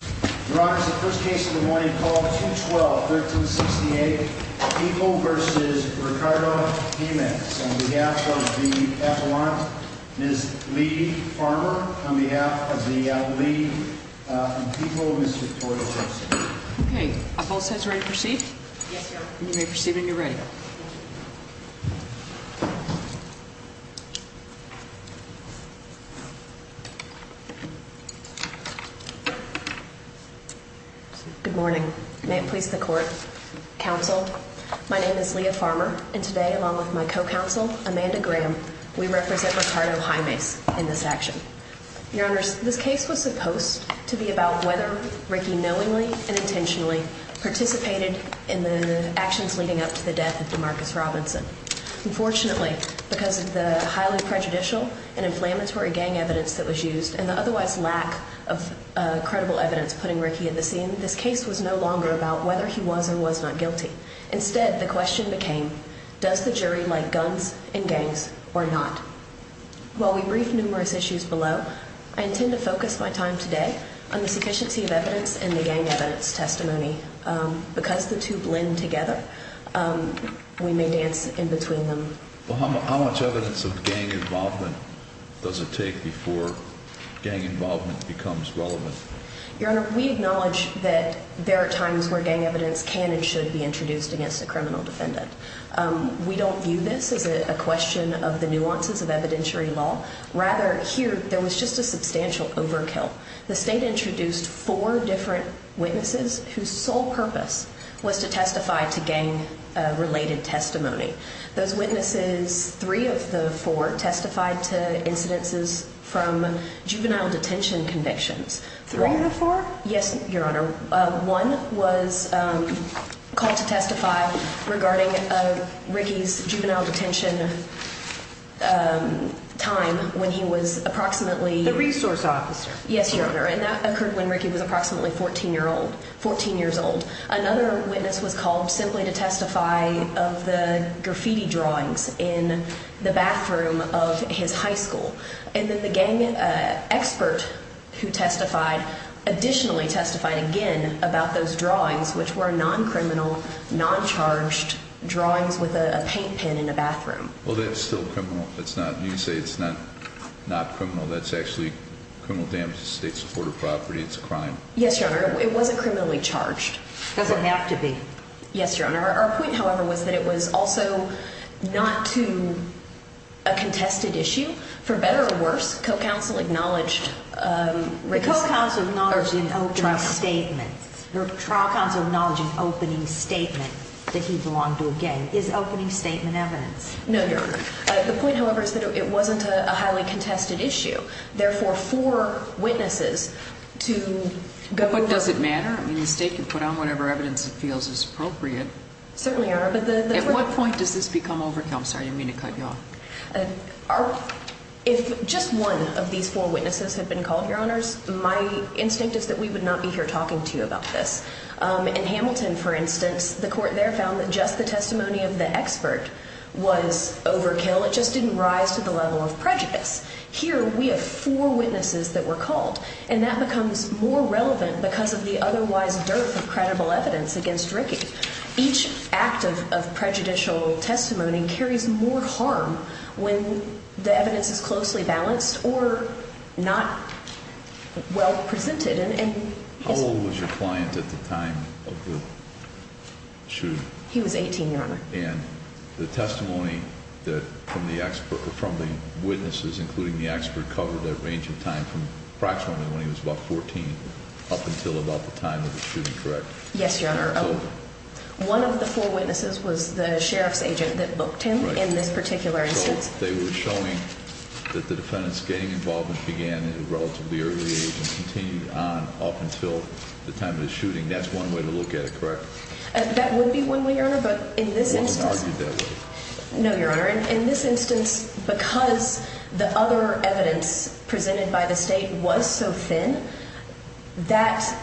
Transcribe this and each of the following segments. The first case of the morning called 2-12-1368, People v. Ricardo Jaimes, on behalf of the Affluent, Ms. Leigh Farmer, on behalf of the Leigh and People, Ms. Victoria Simpson. Okay, are both sides ready to proceed? Yes, ma'am. You may proceed when you're ready. Good morning. May it please the Court, Counsel, my name is Leigh Farmer, and today, along with my co-counsel, Amanda Graham, we represent Ricardo Jaimes in this action. Your Honors, this case was supposed to be about whether Ricky knowingly and intentionally participated in the actions leading up to the death of DeMarcus Robinson. Unfortunately, because of the highly prejudicial and inflammatory gang evidence that was used and the otherwise lack of credible evidence putting Ricky at the scene, this case was no longer about whether he was or was not guilty. Instead, the question became, does the jury like guns and gangs or not? While we brief numerous issues below, I intend to focus my time today on the sufficiency of evidence and the gang evidence testimony. Because the two blend together, we may dance in between them. Well, how much evidence of gang involvement does it take before gang involvement becomes relevant? Your Honor, we acknowledge that there are times where gang evidence can and should be introduced against a criminal defendant. We don't view this as a question of the nuances of evidentiary law. Rather, here, there was just a substantial overkill. The state introduced four different witnesses whose sole purpose was to testify to gang-related testimony. Those witnesses, three of the four, testified to incidences from juvenile detention convictions. Three of the four? Yes, Your Honor. One was called to testify regarding Ricky's juvenile detention time when he was approximately... The resource officer. Yes, Your Honor. And that occurred when Ricky was approximately 14 years old. Another witness was called simply to testify of the graffiti drawings in the bathroom of his high school. And then the gang expert who testified additionally testified again about those drawings, which were non-criminal, non-charged drawings with a paint pen in a bathroom. Well, that's still criminal. You say it's not criminal. That's actually criminal damage to state-supported property. It's a crime. Yes, Your Honor. It wasn't criminally charged. It doesn't have to be. Yes, Your Honor. Our point, however, was that it was also not a contested issue. For better or worse, co-counsel acknowledged Ricky's... The co-counsel acknowledged an opening statement. The trial counsel acknowledged an opening statement that he belonged to a gang. Is opening statement evidence? No, Your Honor. The point, however, is that it wasn't a highly contested issue. Therefore, four witnesses to go... But does it matter? I mean, the state can put on whatever evidence it feels is appropriate. Certainly, Your Honor, but the... At what point does this become overkill? I'm sorry. I didn't mean to cut you off. If just one of these four witnesses had been called, Your Honors, my instinct is that we would not be here talking to you about this. In Hamilton, for instance, the court there found that just the testimony of the expert was overkill. It just didn't rise to the level of prejudice. Here, we have four witnesses that were called, and that becomes more relevant because of the otherwise dearth of credible evidence against Ricky. Each act of prejudicial testimony carries more harm when the evidence is closely balanced or not well presented. How old was your client at the time of the shooting? He was 18, Your Honor. And the testimony from the witnesses, including the expert, covered a range of time from approximately when he was about 14 up until about the time of the shooting, correct? Yes, Your Honor. One of the four witnesses was the sheriff's agent that booked him in this particular instance. They were showing that the defendant's gang involvement began at a relatively early age and continued on up until the time of the shooting. That's one way to look at it, correct? That would be one way, Your Honor, but in this instance— You wouldn't argue that way. No, Your Honor. In this instance, because the other evidence presented by the state was so thin, that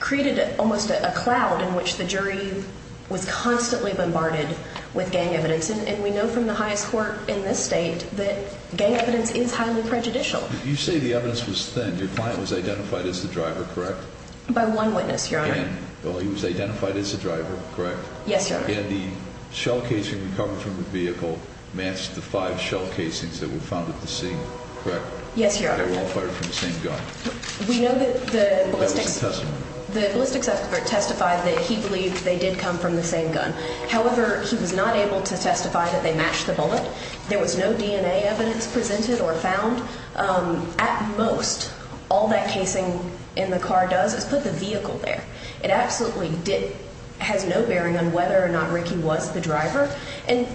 created almost a cloud in which the jury was constantly bombarded with gang evidence. And we know from the highest court in this state that gang evidence is highly prejudicial. You say the evidence was thin. Your client was identified as the driver, correct? By one witness, Your Honor. Well, he was identified as the driver, correct? Yes, Your Honor. And the shell casing recovered from the vehicle matched the five shell casings that were found at the scene, correct? Yes, Your Honor. They were all fired from the same gun. We know that the ballistics— That was the testimony. The ballistics expert testified that he believed they did come from the same gun. However, he was not able to testify that they matched the bullet. There was no DNA evidence presented or found. At most, all that casing in the car does is put the vehicle there. It absolutely has no bearing on whether or not Ricky was the driver. And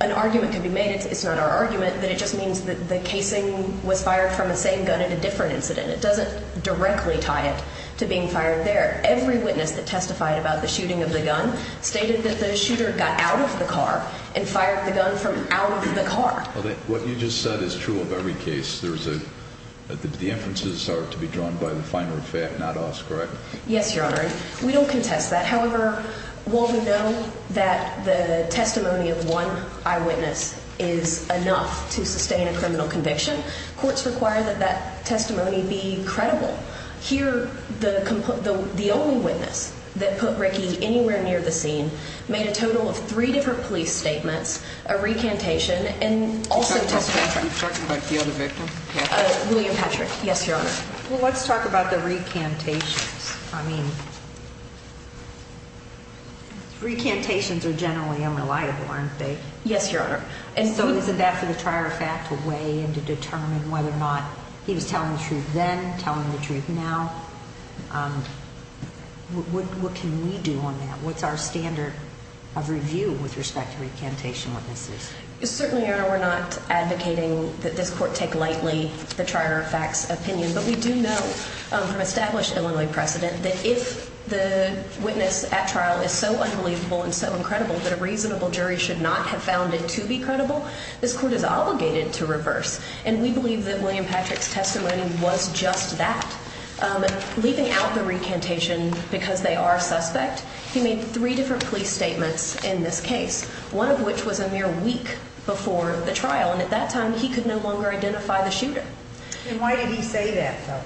an argument could be made—it's not our argument—that it just means that the casing was fired from the same gun in a different incident. It doesn't directly tie it to being fired there. Every witness that testified about the shooting of the gun stated that the shooter got out of the car and fired the gun from out of the car. What you just said is true of every case. The inferences are to be drawn by the finer of fact, not us, correct? Yes, Your Honor. We don't contest that. However, while we know that the testimony of one eyewitness is enough to sustain a criminal conviction, courts require that that testimony be credible. Here, the only witness that put Ricky anywhere near the scene made a total of three different police statements, a recantation, and also— Are you talking about the other victim? William Patrick. Yes, Your Honor. Well, let's talk about the recantations. I mean, recantations are generally unreliable, aren't they? Yes, Your Honor. So isn't that for the trier of fact to weigh and to determine whether or not he was telling the truth then, telling the truth now? What can we do on that? What's our standard of review with respect to recantation witnesses? Certainly, Your Honor, we're not advocating that this court take lightly the trier of fact's opinion. But we do know from established Illinois precedent that if the witness at trial is so unbelievable and so incredible that a reasonable jury should not have found it to be credible, this court is obligated to reverse. And we believe that William Patrick's testimony was just that. Leaving out the recantation because they are a suspect, he made three different police statements in this case, one of which was a mere week before the trial. And at that time, he could no longer identify the shooter. And why did he say that, though?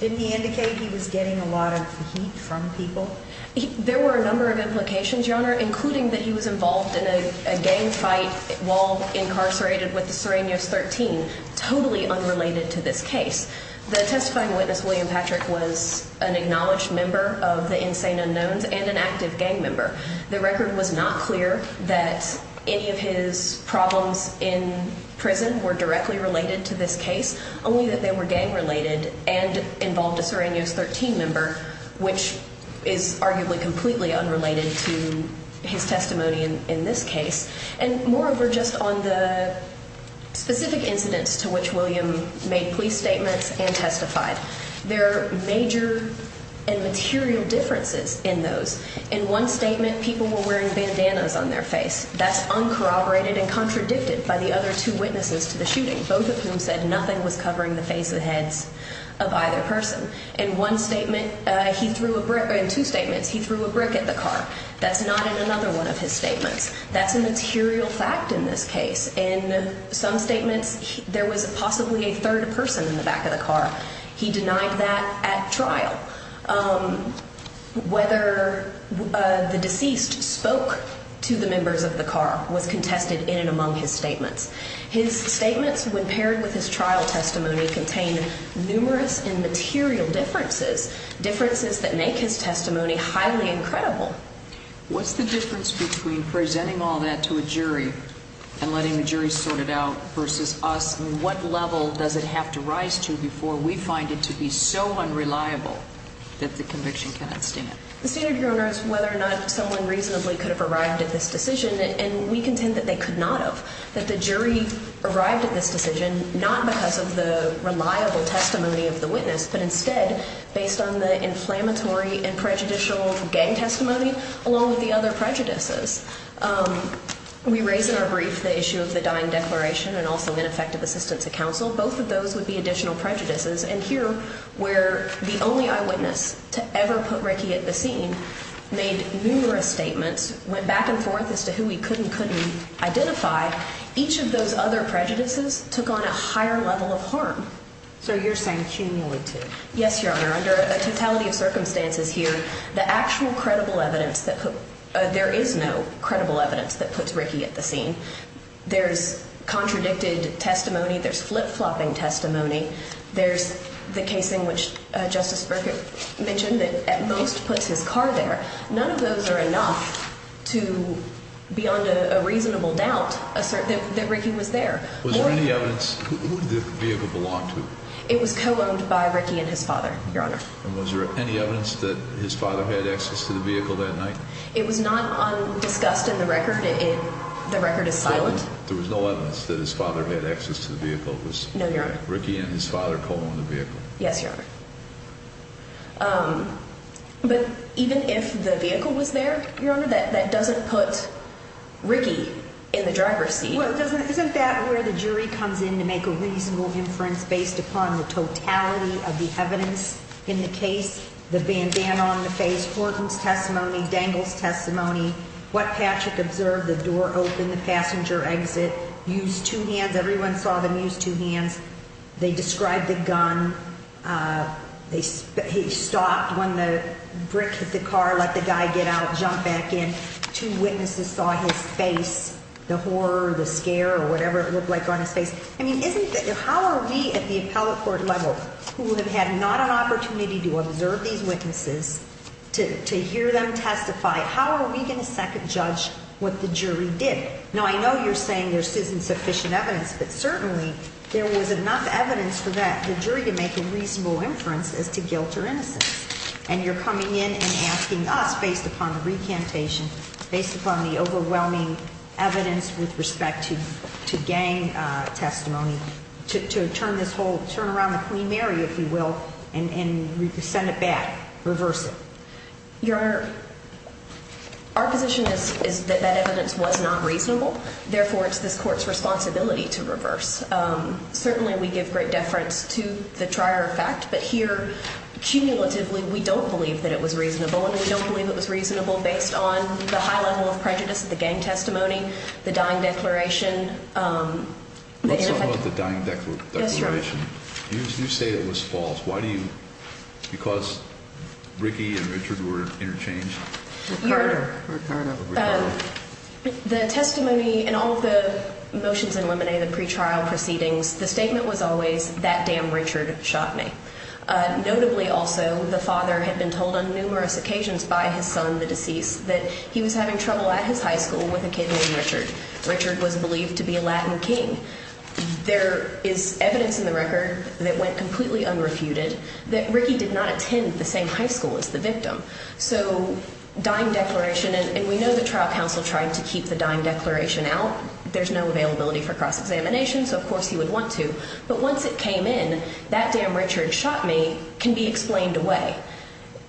Didn't he indicate he was getting a lot of heat from people? There were a number of implications, Your Honor, including that he was involved in a gang fight while incarcerated with the Sirenios 13, totally unrelated to this case. The testifying witness, William Patrick, was an acknowledged member of the Insane Unknowns and an active gang member. The record was not clear that any of his problems in prison were directly related to this case, only that they were gang related and involved a Sirenios 13 member, which is arguably completely unrelated to his testimony in this case. And moreover, just on the specific incidents to which William made police statements and testified, there are major and material differences in those. In one statement, people were wearing bandanas on their face. That's uncorroborated and contradicted by the other two witnesses to the shooting, both of whom said nothing was covering the face of the heads of either person. In one statement, he threw a brick – in two statements, he threw a brick at the car. That's not in another one of his statements. That's a material fact in this case. In some statements, there was possibly a third person in the back of the car. He denied that at trial. Whether the deceased spoke to the members of the car was contested in and among his statements. His statements, when paired with his trial testimony, contained numerous and material differences, differences that make his testimony highly incredible. What's the difference between presenting all that to a jury and letting the jury sort it out versus us? What level does it have to rise to before we find it to be so unreliable that the conviction cannot stand? The standard, Your Honor, is whether or not someone reasonably could have arrived at this decision, and we contend that they could not have. That the jury arrived at this decision not because of the reliable testimony of the witness, but instead based on the inflammatory and prejudicial gang testimony, along with the other prejudices. We raise in our brief the issue of the dying declaration and also ineffective assistance to counsel. Both of those would be additional prejudices. And here where the only eyewitness to ever put Ricky at the scene made numerous statements, went back and forth as to who he could and couldn't identify, each of those other prejudices took on a higher level of harm. So you're saying she knew it, too? Yes, Your Honor. Under a totality of circumstances here, the actual credible evidence that there is no credible evidence that puts Ricky at the scene. There's contradicted testimony. There's flip-flopping testimony. There's the case in which Justice Burkett mentioned that at most puts his car there. None of those are enough to, beyond a reasonable doubt, assert that Ricky was there. Was there any evidence? Who did the vehicle belong to? It was co-owned by Ricky and his father, Your Honor. And was there any evidence that his father had access to the vehicle that night? It was not discussed in the record. The record is silent. There was no evidence that his father had access to the vehicle. No, Your Honor. It was Ricky and his father co-owned the vehicle. Yes, Your Honor. But even if the vehicle was there, Your Honor, that doesn't put Ricky in the driver's seat. Well, isn't that where the jury comes in to make a reasonable inference based upon the totality of the evidence in the case, the bandana on the face, Horton's testimony, Dangle's testimony, what Patrick observed, the door open, the passenger exit, used two hands, everyone saw them use two hands. They described the gun. He stopped when the brick hit the car, let the guy get out, jump back in. Two witnesses saw his face, the horror, the scare or whatever it looked like on his face. I mean, how are we at the appellate court level who have had not an opportunity to observe these witnesses, to hear them testify, how are we going to second-judge what the jury did? Now, I know you're saying there isn't sufficient evidence, but certainly there was enough evidence for the jury to make a reasonable inference as to guilt or innocence. And you're coming in and asking us, based upon the recantation, based upon the overwhelming evidence with respect to gang testimony, to turn around the Queen Mary, if you will, and send it back, reverse it. Your Honor, our position is that that evidence was not reasonable. Therefore, it's this court's responsibility to reverse. Certainly, we give great deference to the trier fact, but here, cumulatively, we don't believe that it was reasonable. And we don't believe it was reasonable based on the high level of prejudice of the gang testimony, the dying declaration. Let's talk about the dying declaration. You say it was false. Why do you – because Ricky and Richard were interchanged? Your Honor, the testimony and all of the motions in limine, the pretrial proceedings, the statement was always, that damn Richard shot me. Notably, also, the father had been told on numerous occasions by his son, the deceased, that he was having trouble at his high school with a kid named Richard. Richard was believed to be a Latin king. There is evidence in the record that went completely unrefuted that Ricky did not attend the same high school as the victim. So dying declaration – and we know the trial counsel tried to keep the dying declaration out. There's no availability for cross-examination, so of course he would want to. But once it came in, that damn Richard shot me can be explained away.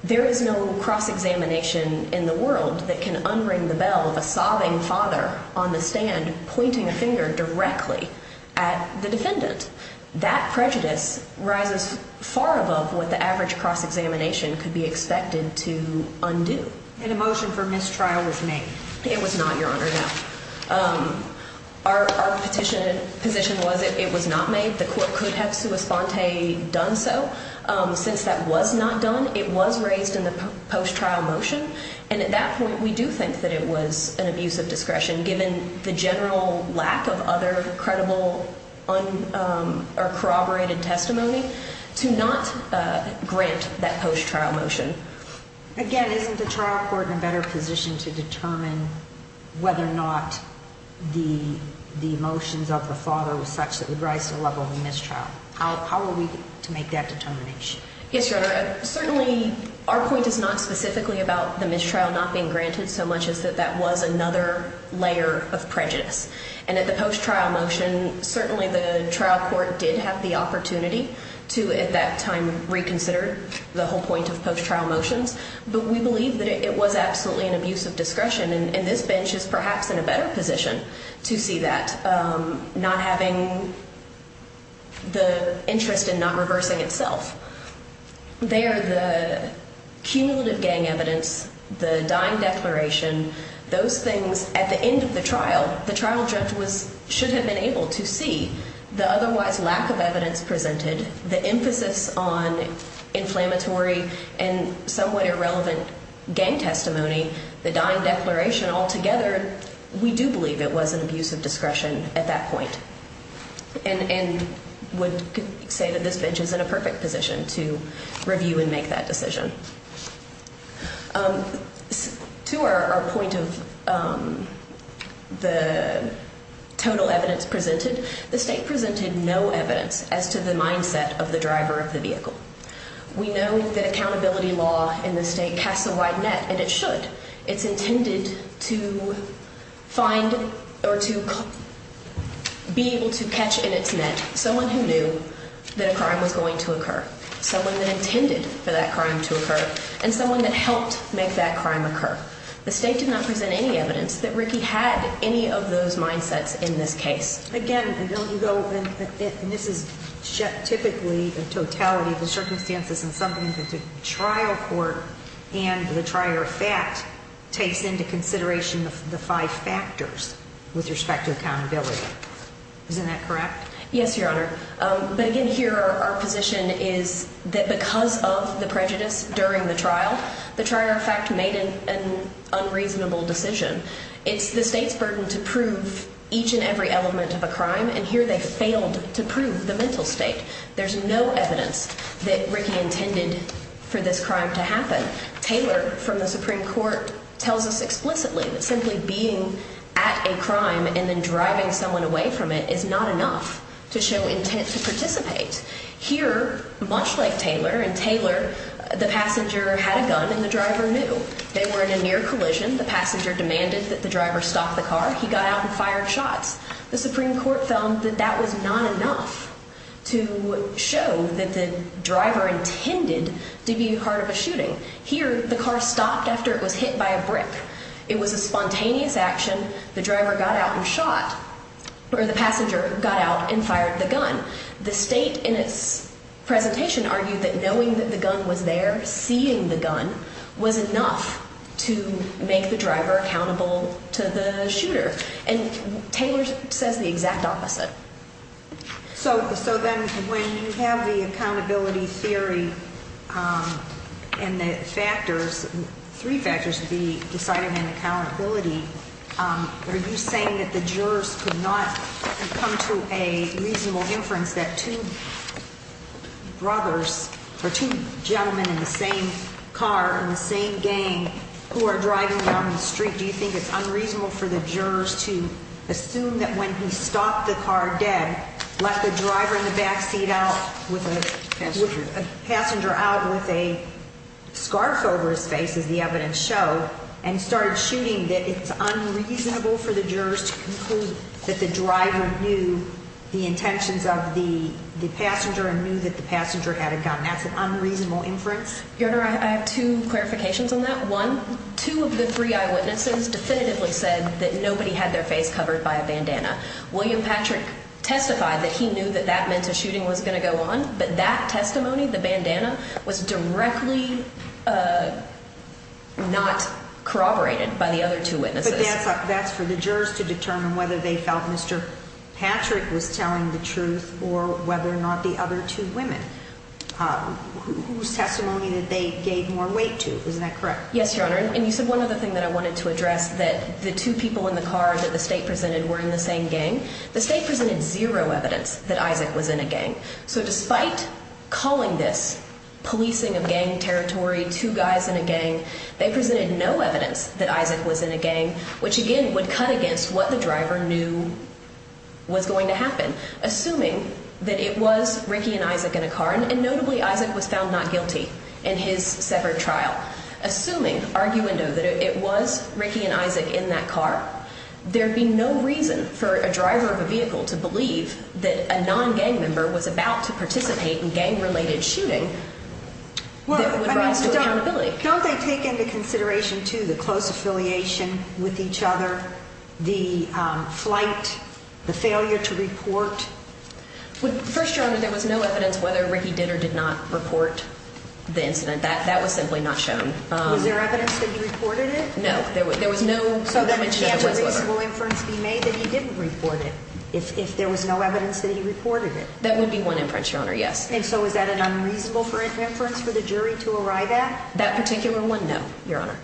There is no cross-examination in the world that can unring the bell of a sobbing father on the stand, pointing a finger directly at the defendant. That prejudice rises far above what the average cross-examination could be expected to undo. And a motion for mistrial was made. It was not, Your Honor, no. Our position was that it was not made. I think the court could have sua sponte done so. Since that was not done, it was raised in the post-trial motion. And at that point, we do think that it was an abuse of discretion, given the general lack of other credible or corroborated testimony, to not grant that post-trial motion. Again, isn't the trial court in a better position to determine whether or not the motions of the father was such that it would rise to the level of a mistrial? How are we to make that determination? Yes, Your Honor, certainly our point is not specifically about the mistrial not being granted so much as that that was another layer of prejudice. And at the post-trial motion, certainly the trial court did have the opportunity to, at that time, reconsider the whole point of post-trial motions. But we believe that it was absolutely an abuse of discretion, and this bench is perhaps in a better position to see that, not having the interest in not reversing itself. There, the cumulative gang evidence, the dying declaration, those things, at the end of the trial, the trial judge should have been able to see the otherwise lack of evidence presented, the emphasis on inflammatory and somewhat irrelevant gang testimony, the dying declaration altogether, we do believe it was an abuse of discretion at that point, and would say that this bench is in a perfect position to review and make that decision. To our point of the total evidence presented, the State presented no evidence as to the mindset of the driver of the vehicle. We know that accountability law in the State casts a wide net, and it should. It's intended to find or to be able to catch in its net someone who knew that a crime was going to occur, someone that intended for that crime to occur, and someone that helped make that crime occur. The State did not present any evidence that Ricky had any of those mindsets in this case. Again, don't you go, and this is typically the totality of the circumstances in something that the trial court and the trier of fact takes into consideration the five factors with respect to accountability. Isn't that correct? Yes, Your Honor. But again, here our position is that because of the prejudice during the trial, the trier of fact made an unreasonable decision. It's the State's burden to prove each and every element of a crime, and here they failed to prove the mental state. There's no evidence that Ricky intended for this crime to happen. Taylor from the Supreme Court tells us explicitly that simply being at a crime and then driving someone away from it is not enough to show intent to participate. Here, much like Taylor, in Taylor the passenger had a gun and the driver knew. They were in a near collision. The passenger demanded that the driver stop the car. He got out and fired shots. The Supreme Court found that that was not enough to show that the driver intended to be part of a shooting. Here, the car stopped after it was hit by a brick. It was a spontaneous action. The driver got out and shot, or the passenger got out and fired the gun. The State in its presentation argued that knowing that the gun was there, seeing the gun, was enough to make the driver accountable to the shooter. And Taylor says the exact opposite. So then when you have the accountability theory and the factors, three factors to be decided on accountability, are you saying that the jurors could not come to a reasonable inference that two brothers, or two gentlemen in the same car, in the same gang, who are driving along the street, do you think it's unreasonable for the jurors to assume that when he stopped the car dead, left the driver in the back seat out with a passenger out with a scarf over his face, as the evidence showed, and started shooting, that it's unreasonable for the jurors to conclude that the driver knew the intentions of the passenger and knew that the passenger had a gun. That's an unreasonable inference? Your Honor, I have two clarifications on that. One, two of the three eyewitnesses definitively said that nobody had their face covered by a bandana. William Patrick testified that he knew that that meant a shooting was going to go on, but that testimony, the bandana, was directly not corroborated by the other two witnesses. But that's for the jurors to determine whether they felt Mr. Patrick was telling the truth or whether or not the other two women, whose testimony that they gave more weight to. Isn't that correct? Yes, Your Honor, and you said one other thing that I wanted to address, that the two people in the car that the State presented were in the same gang. The State presented zero evidence that Isaac was in a gang. So despite calling this policing of gang territory, two guys in a gang, they presented no evidence that Isaac was in a gang, which again would cut against what the driver knew was going to happen, assuming that it was Ricky and Isaac in a car, and notably Isaac was found not guilty in his severed trial. Assuming, arguendo, that it was Ricky and Isaac in that car, there would be no reason for a driver of a vehicle to believe that a non-gang member was about to participate in gang-related shooting that would rise to accountability. Don't they take into consideration, too, the close affiliation with each other, the flight, the failure to report? First, Your Honor, there was no evidence whether Ricky did or did not report the incident. That was simply not shown. Was there evidence that he reported it? No, there was no evidence that it was. So then can't a reasonable inference be made that he didn't report it, if there was no evidence that he reported it? That would be one inference, Your Honor, yes. And so is that an unreasonable inference for the jury to arrive at? That particular one, no, Your Honor.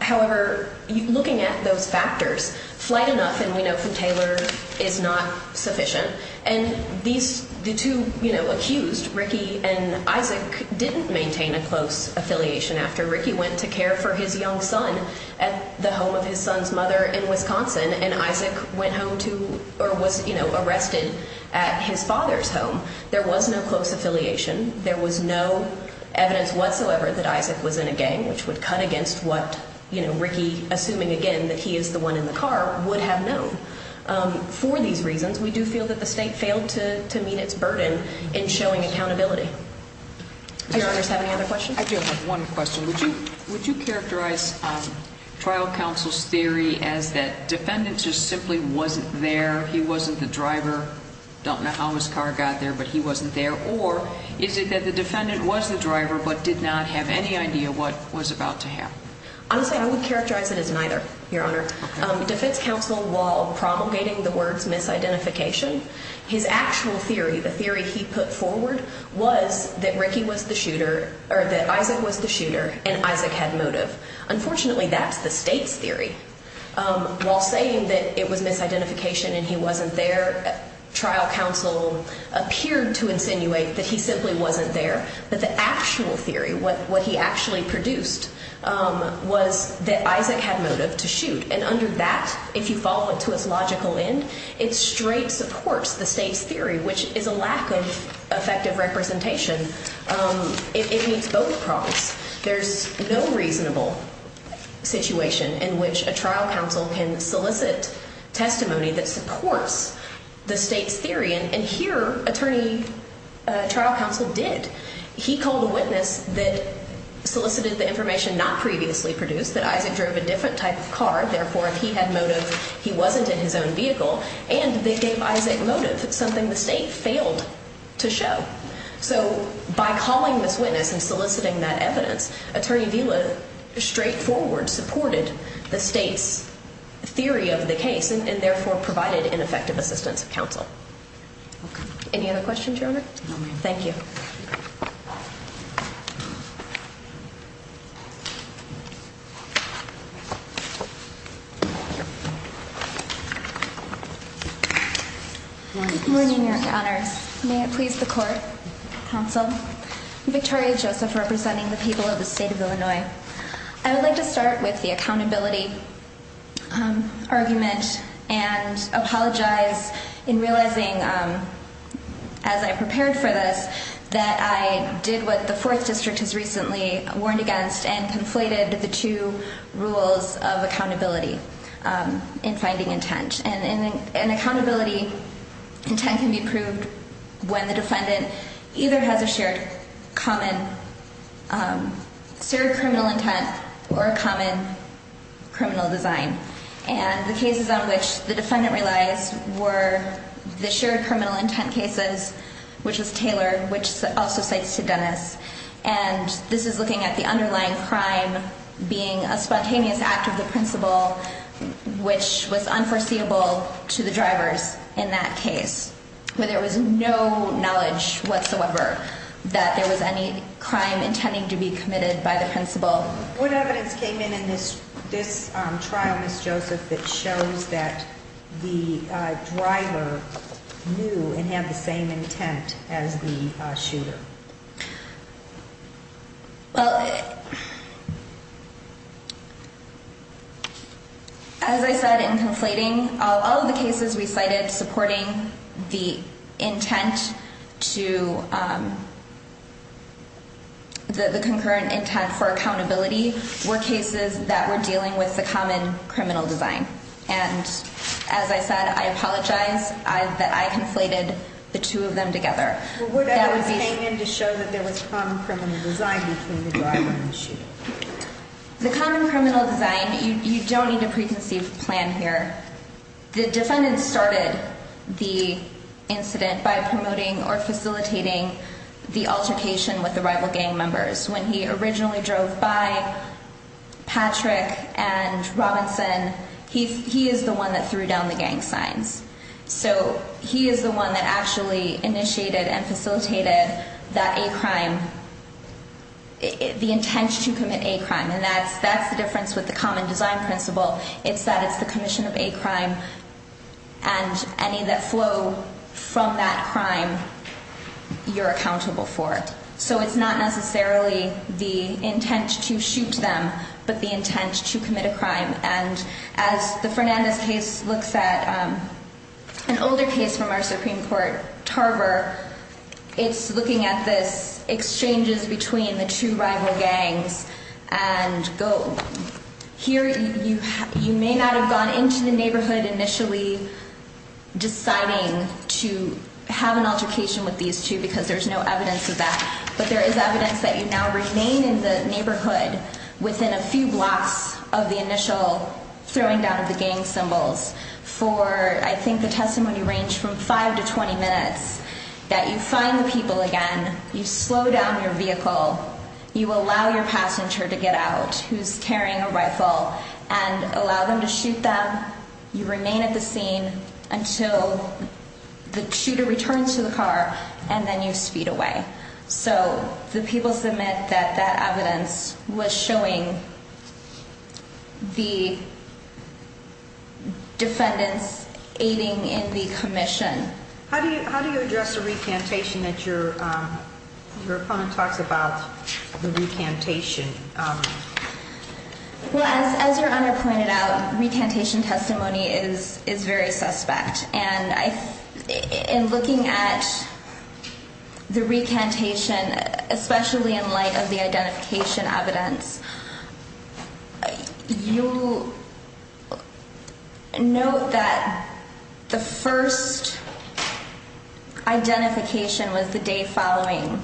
However, looking at those factors, flight enough, and we know from Taylor, is not sufficient. And these, the two accused, Ricky and Isaac, didn't maintain a close affiliation after Ricky went to care for his young son at the home of his son's mother in Wisconsin and Isaac went home to, or was arrested at his father's home. There was no close affiliation. There was no evidence whatsoever that Isaac was in a gang, which would cut against what Ricky, assuming, again, that he is the one in the car, would have known. For these reasons, we do feel that the State failed to meet its burden in showing accountability. Do Your Honors have any other questions? I do have one question. Would you characterize trial counsel's theory as that defendant just simply wasn't there, he wasn't the driver, don't know how his car got there, but he wasn't there, or is it that the defendant was the driver but did not have any idea what was about to happen? Honestly, I would characterize it as neither, Your Honor. Defense counsel, while promulgating the words misidentification, his actual theory, the theory he put forward, was that Ricky was the shooter, or that Isaac was the shooter, and Isaac had motive. Unfortunately, that's the State's theory. While saying that it was misidentification and he wasn't there, trial counsel appeared to insinuate that he simply wasn't there, but the actual theory, what he actually produced, was that Isaac had motive to shoot, and under that, if you follow it to its logical end, it straight supports the State's theory, which is a lack of effective representation. It meets both problems. There's no reasonable situation in which a trial counsel can solicit testimony that supports the State's theory, and here, attorney trial counsel did. He called a witness that solicited the information not previously produced, that Isaac drove a different type of car, therefore, if he had motive, he wasn't in his own vehicle, and they gave Isaac motive, something the State failed to show. So by calling this witness and soliciting that evidence, Attorney Vila straightforward supported the State's theory of the case and therefore provided an effective assistance of counsel. Any other questions, Your Honor? No, ma'am. Thank you. Good morning, Your Honors. May it please the Court, Counsel, Victoria Joseph representing the people of the State of Illinois. I would like to start with the accountability argument and apologize in realizing as I prepared for this that I did what the Fourth District has recently warned against and conflated the two rules of accountability in finding intent. In accountability, intent can be proved when the defendant either has a shared common criminal intent or a common criminal design, and the cases on which the defendant relies were the shared criminal intent cases, which was tailored, which also cites to Dennis, and this is looking at the underlying crime being a spontaneous act of the principal which was unforeseeable to the drivers in that case, where there was no knowledge whatsoever that there was any crime intending to be committed by the principal. What evidence came in in this trial, Ms. Joseph, that shows that the driver knew and had the same intent as the shooter? Well, as I said in conflating, all of the cases we cited supporting the intent to, the concurrent intent for accountability were cases that were dealing with the common criminal design, and as I said, I apologize that I conflated the two of them together. What evidence came in to show that there was common criminal design between the driver and the shooter? The common criminal design, you don't need to preconceive the plan here. The defendant started the incident by promoting or facilitating the altercation with the rival gang members. When he originally drove by, Patrick and Robinson, he is the one that threw down the gang signs. So he is the one that actually initiated and facilitated that A-crime, the intent to commit A-crime, and that's the difference with the common design principle. It's that it's the commission of A-crime, and any that flow from that crime, you're accountable for. So it's not necessarily the intent to shoot them, but the intent to commit a crime, and as the Fernandez case looks at an older case from our Supreme Court, Tarver, it's looking at this exchanges between the two rival gangs, and here you may not have gone into the neighborhood initially deciding to have an altercation with these two because there's no evidence of that, but there is evidence that you now remain in the neighborhood within a few blocks of the initial throwing down of the gang symbols for I think the testimony ranged from 5 to 20 minutes, that you find the people again, you slow down your vehicle, you allow your passenger to get out who's carrying a rifle, and allow them to shoot them, you remain at the scene until the shooter returns to the car, and then you speed away. So the people submit that that evidence was showing the defendants aiding in the commission. How do you address the recantation that your opponent talks about, the recantation? Well, as your Honor pointed out, recantation testimony is very suspect, and in looking at the recantation, especially in light of the identification evidence, you note that the first identification was the day following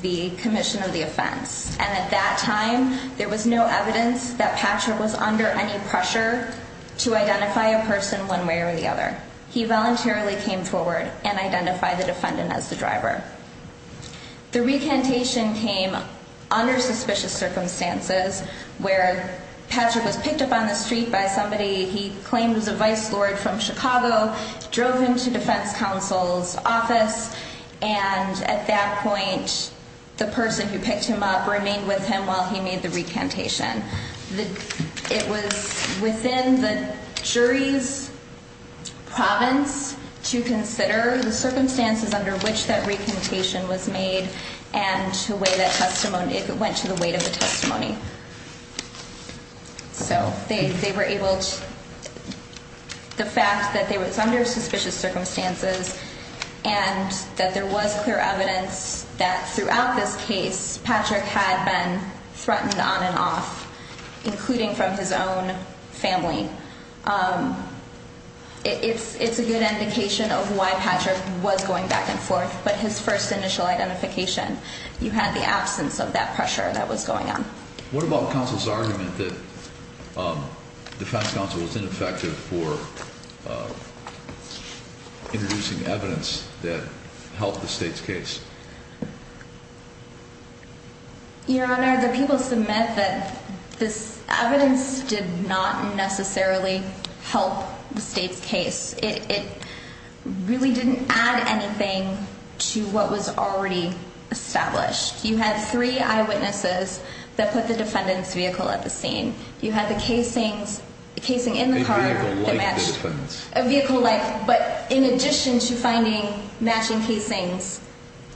the commission of the offense, and at that time there was no evidence that Patrick was under any pressure to identify a person one way or the other. He voluntarily came forward and identified the defendant as the driver. The recantation came under suspicious circumstances where Patrick was picked up on the street by somebody he claimed was a vice lord from Chicago, drove him to defense counsel's office, and at that point the person who picked him up remained with him while he made the recantation. It was within the jury's province to consider the circumstances under which that recantation was made and to weigh that testimony, if it went to the weight of the testimony. So they were able to, the fact that they were under suspicious circumstances and that there was clear evidence that throughout this case Patrick had been threatened on and off, including from his own family, it's a good indication of why Patrick was going back and forth. But his first initial identification, you had the absence of that pressure that was going on. What about counsel's argument that defense counsel was ineffective for introducing evidence that helped the state's case? Your Honor, the people submit that this evidence did not necessarily help the state's case. It really didn't add anything to what was already established. You had three eyewitnesses that put the defendant's vehicle at the scene. You had the casing in the car that matched. A vehicle like the defendant's? A vehicle like, but in addition to finding matching casings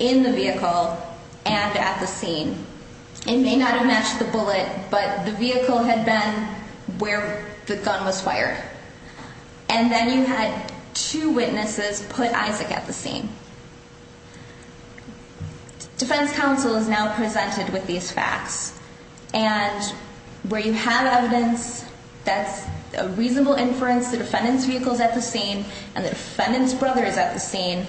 in the vehicle and at the scene. It may not have matched the bullet, but the vehicle had been where the gun was fired. And then you had two witnesses put Isaac at the scene. Defense counsel is now presented with these facts. And where you have evidence that's a reasonable inference, the defendant's vehicle is at the scene, and the defendant's brother is at the scene,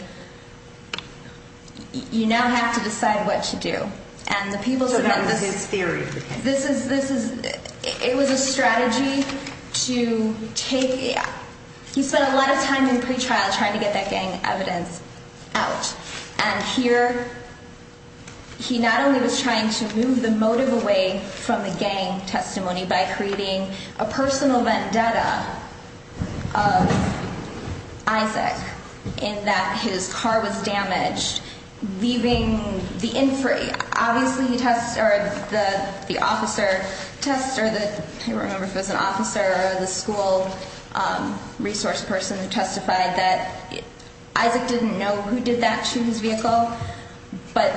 you now have to decide what to do. And the people submit this. So now this is theory. This is, it was a strategy to take, he spent a lot of time in pretrial trying to get that gang evidence. And here, he not only was trying to move the motive away from the gang testimony by creating a personal vendetta of Isaac in that his car was damaged, leaving the infray. Obviously, the officer, I don't remember if it was an officer or the school resource person who testified that Isaac didn't know who did that to his vehicle. But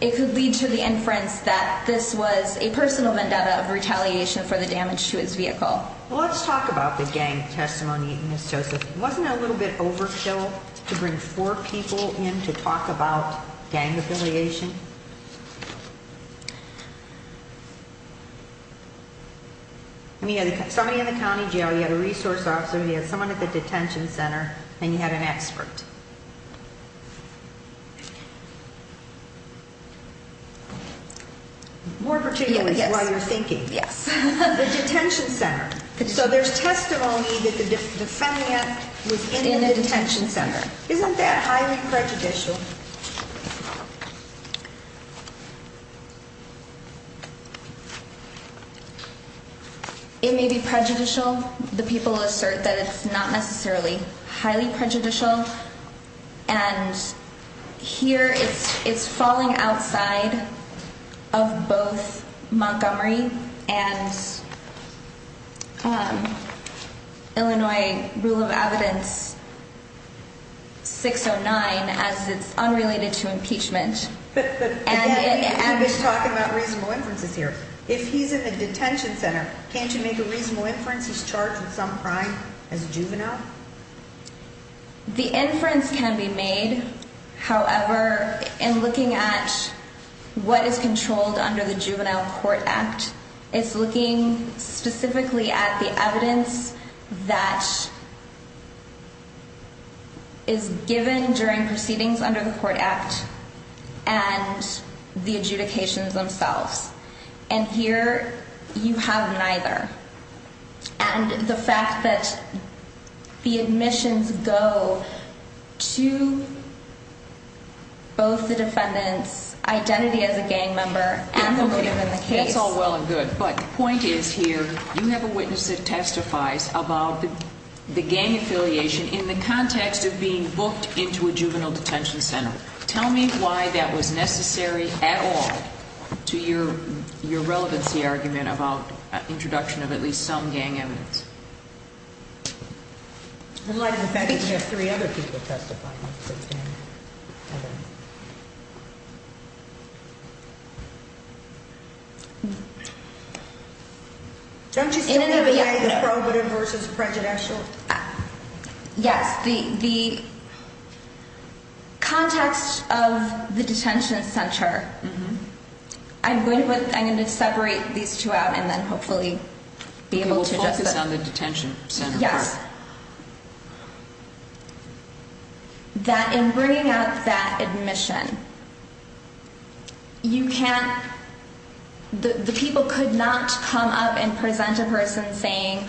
it could lead to the inference that this was a personal vendetta of retaliation for the damage to his vehicle. Well, let's talk about the gang testimony, Ms. Joseph. Wasn't that a little bit overkill to bring four people in to talk about gang affiliation? Somebody in the county jail, you had a resource officer, you had someone at the detention center, and you had an expert. More particulars while you're thinking. Yes. The detention center. So there's testimony that the defendant was in the detention center. Isn't that highly prejudicial? It may be prejudicial. The people assert that it's not necessarily highly prejudicial. And here it's falling outside of both Montgomery and Illinois rule of evidence 609 as it's unrelated to impeachment. Again, you keep talking about reasonable inferences here. If he's in the detention center, can't you make a reasonable inference he's charged with some crime as a juvenile? The inference can be made. However, in looking at what is controlled under the Juvenile Court Act, it's looking specifically at the evidence that is given during proceedings under the court act and the adjudications themselves. And here you have neither. And the fact that the admissions go to both the defendant's identity as a gang member and the motive in the case. That's all well and good. But the point is here, you have a witness that testifies about the gang affiliation in the context of being booked into a juvenile detention center. Tell me why that was necessary at all to your relevancy argument about introduction of at least some gang evidence. Unlike the fact that you have three other people testifying. Don't you still weigh the probative versus prejudicial? Yes. The context of the detention center. I'm going to separate these two out and then hopefully be able to focus on the detention center. Yes. That in bringing out that admission. You can't. The people could not come up and present a person saying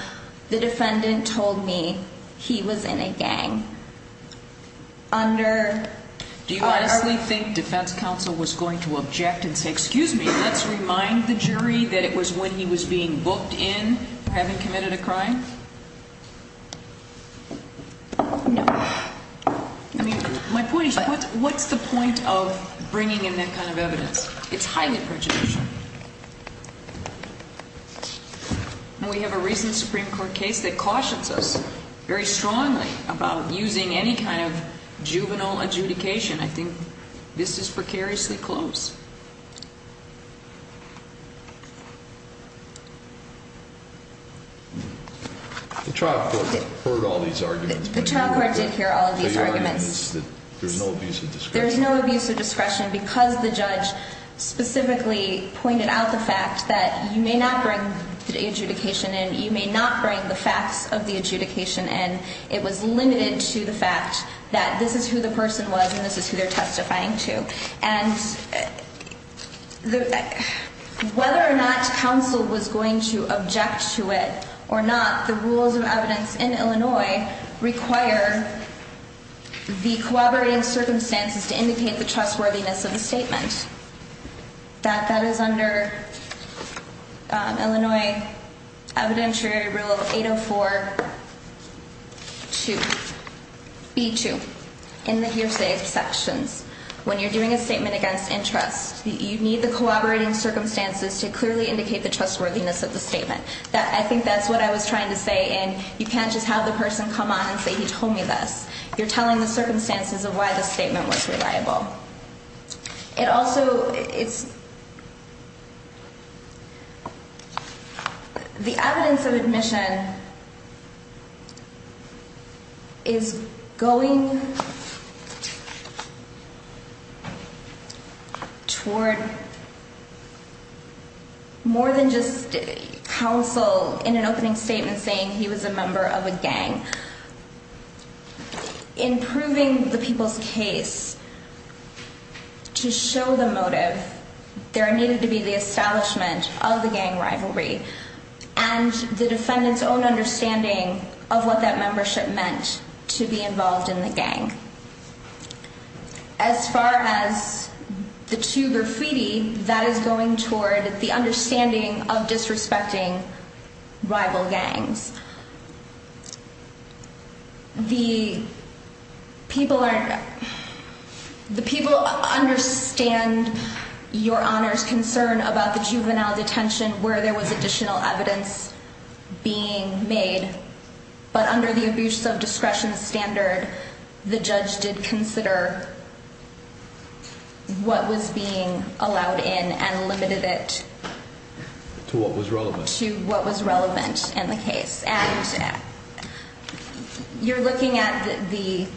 the defendant told me he was in a gang. Under. Do you honestly think defense counsel was going to object and say, excuse me, let's remind the jury that it was when he was being booked in. Having committed a crime. My point is, what's the point of bringing in that kind of evidence? It's highly prejudicial. We have a recent Supreme Court case that cautions us very strongly about using any kind of juvenile adjudication. I think this is precariously close. The trial court heard all these arguments. The trial court did hear all of these arguments. There's no abuse of discretion. There's no abuse of discretion because the judge specifically pointed out the fact that you may not bring the adjudication in. You may not bring the facts of the adjudication in. It was limited to the fact that this is who the person was and this is who they're testifying to. And whether or not counsel was going to object to it or not, the rules of evidence in Illinois require the corroborating circumstances to indicate the trustworthiness of the statement. That is under Illinois Evidentiary Rule 804-2, B-2, in the hearsay sections. When you're doing a statement against interest, you need the corroborating circumstances to clearly indicate the trustworthiness of the statement. I think that's what I was trying to say. You can't just have the person come on and say, he told me this. You're telling the circumstances of why the statement was reliable. It also is – the evidence of admission is going toward more than just counsel in an opening statement saying he was a member of a gang. In proving the people's case, to show the motive, there needed to be the establishment of the gang rivalry and the defendant's own understanding of what that membership meant to be involved in the gang. As far as the two graffiti, that is going toward the understanding of disrespecting rival gangs. The people understand your Honor's concern about the juvenile detention where there was additional evidence being made, but under the abuse of discretion standard, the judge did consider what was being allowed in and limited it to what was relevant in the case. You're looking at the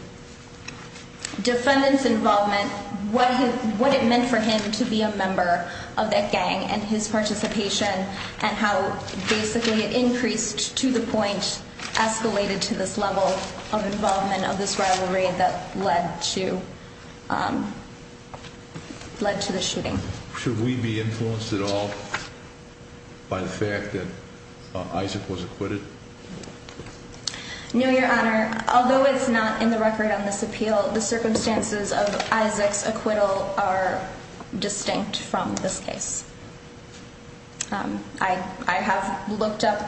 defendant's involvement, what it meant for him to be a member of that gang and his participation and how basically it increased to the point, escalated to this level of involvement of this rivalry that led to the shooting. Should we be influenced at all by the fact that Isaac was acquitted? No, your Honor. Although it's not in the record on this appeal, the circumstances of Isaac's acquittal are distinct from this case. I have looked up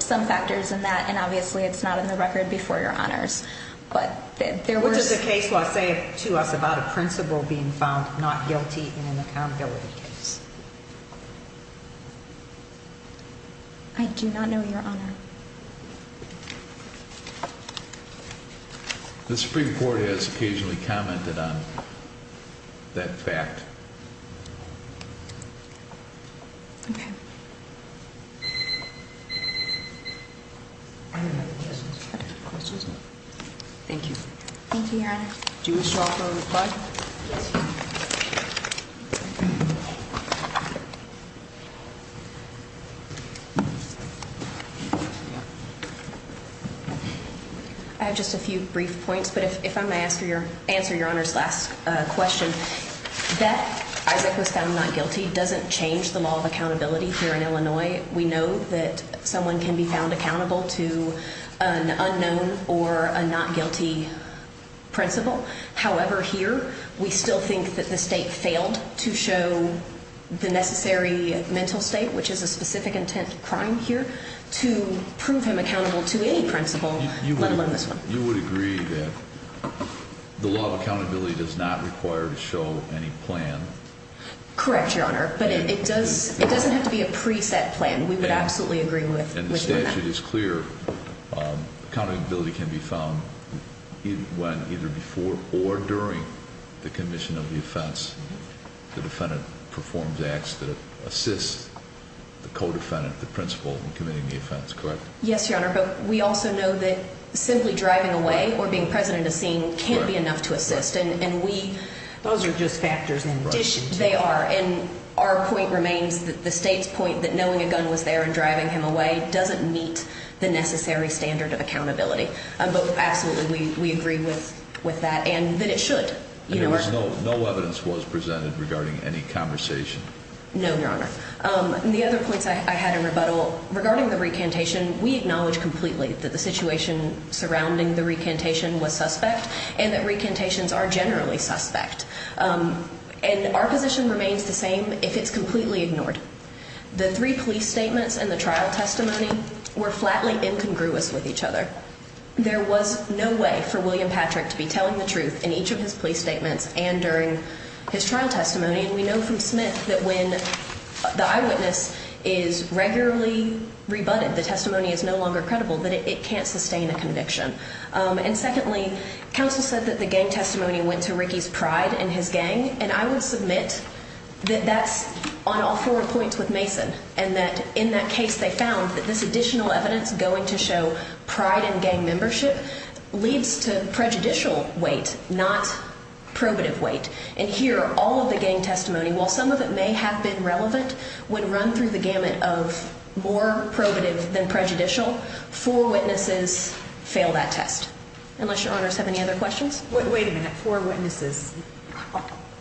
some factors in that and obviously it's not in the record before your Honor's. What does the case law say to us about a principal being found not guilty in an accountability case? I do not know, your Honor. The Supreme Court has occasionally commented on that fact. Thank you. Thank you, your Honor. Do you wish to offer a reply? Yes, your Honor. I have just a few brief points, but if I may answer your Honor's last question. That Isaac was found not guilty doesn't change the law of accountability here in Illinois. We know that someone can be found accountable to an unknown or a not guilty principal. However, here, we still think that the state failed to show the necessary mental state, which is a specific intent crime here, to prove him accountable to any principal, let alone this one. You would agree that the law of accountability does not require to show any plan? Correct, your Honor, but it doesn't have to be a pre-set plan. We would absolutely agree with you on that. And the statute is clear. Accountability can be found when, either before or during the commission of the offense, the defendant performs acts that assist the co-defendant, the principal, in committing the offense, correct? Yes, your Honor, but we also know that simply driving away or being present in a scene can't be enough to assist. Those are just factors in addition to that. They are, and our point remains that the state's point that knowing a gun was there and driving him away doesn't meet the necessary standard of accountability. But, absolutely, we agree with that, and that it should. No evidence was presented regarding any conversation? No, your Honor. The other points I had in rebuttal, regarding the recantation, we acknowledge completely that the situation surrounding the recantation was suspect, and that recantations are generally suspect. And our position remains the same if it's completely ignored. The three police statements and the trial testimony were flatly incongruous with each other. There was no way for William Patrick to be telling the truth in each of his police statements and during his trial testimony. And we know from Smith that when the eyewitness is regularly rebutted, the testimony is no longer credible, but it can't sustain a conviction. And secondly, counsel said that the gang testimony went to Ricky's pride in his gang, and I would submit that that's on all four points with Mason, and that in that case they found that this additional evidence going to show pride in gang membership leads to prejudicial weight, not probative weight. And here, all of the gang testimony, while some of it may have been relevant, would run through the gamut of more probative than prejudicial. Four witnesses failed that test. Unless your Honors have any other questions? Wait a minute, four witnesses.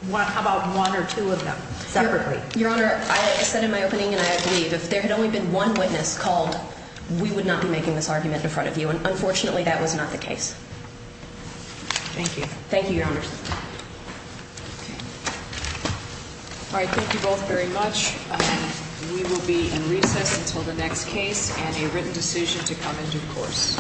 How about one or two of them separately? Your Honor, I said in my opening, and I agree, if there had only been one witness called, we would not be making this argument in front of you. And unfortunately that was not the case. Thank you. Thank you, your Honors. All right, thank you both very much. We will be in recess until the next case and a written decision to come into course.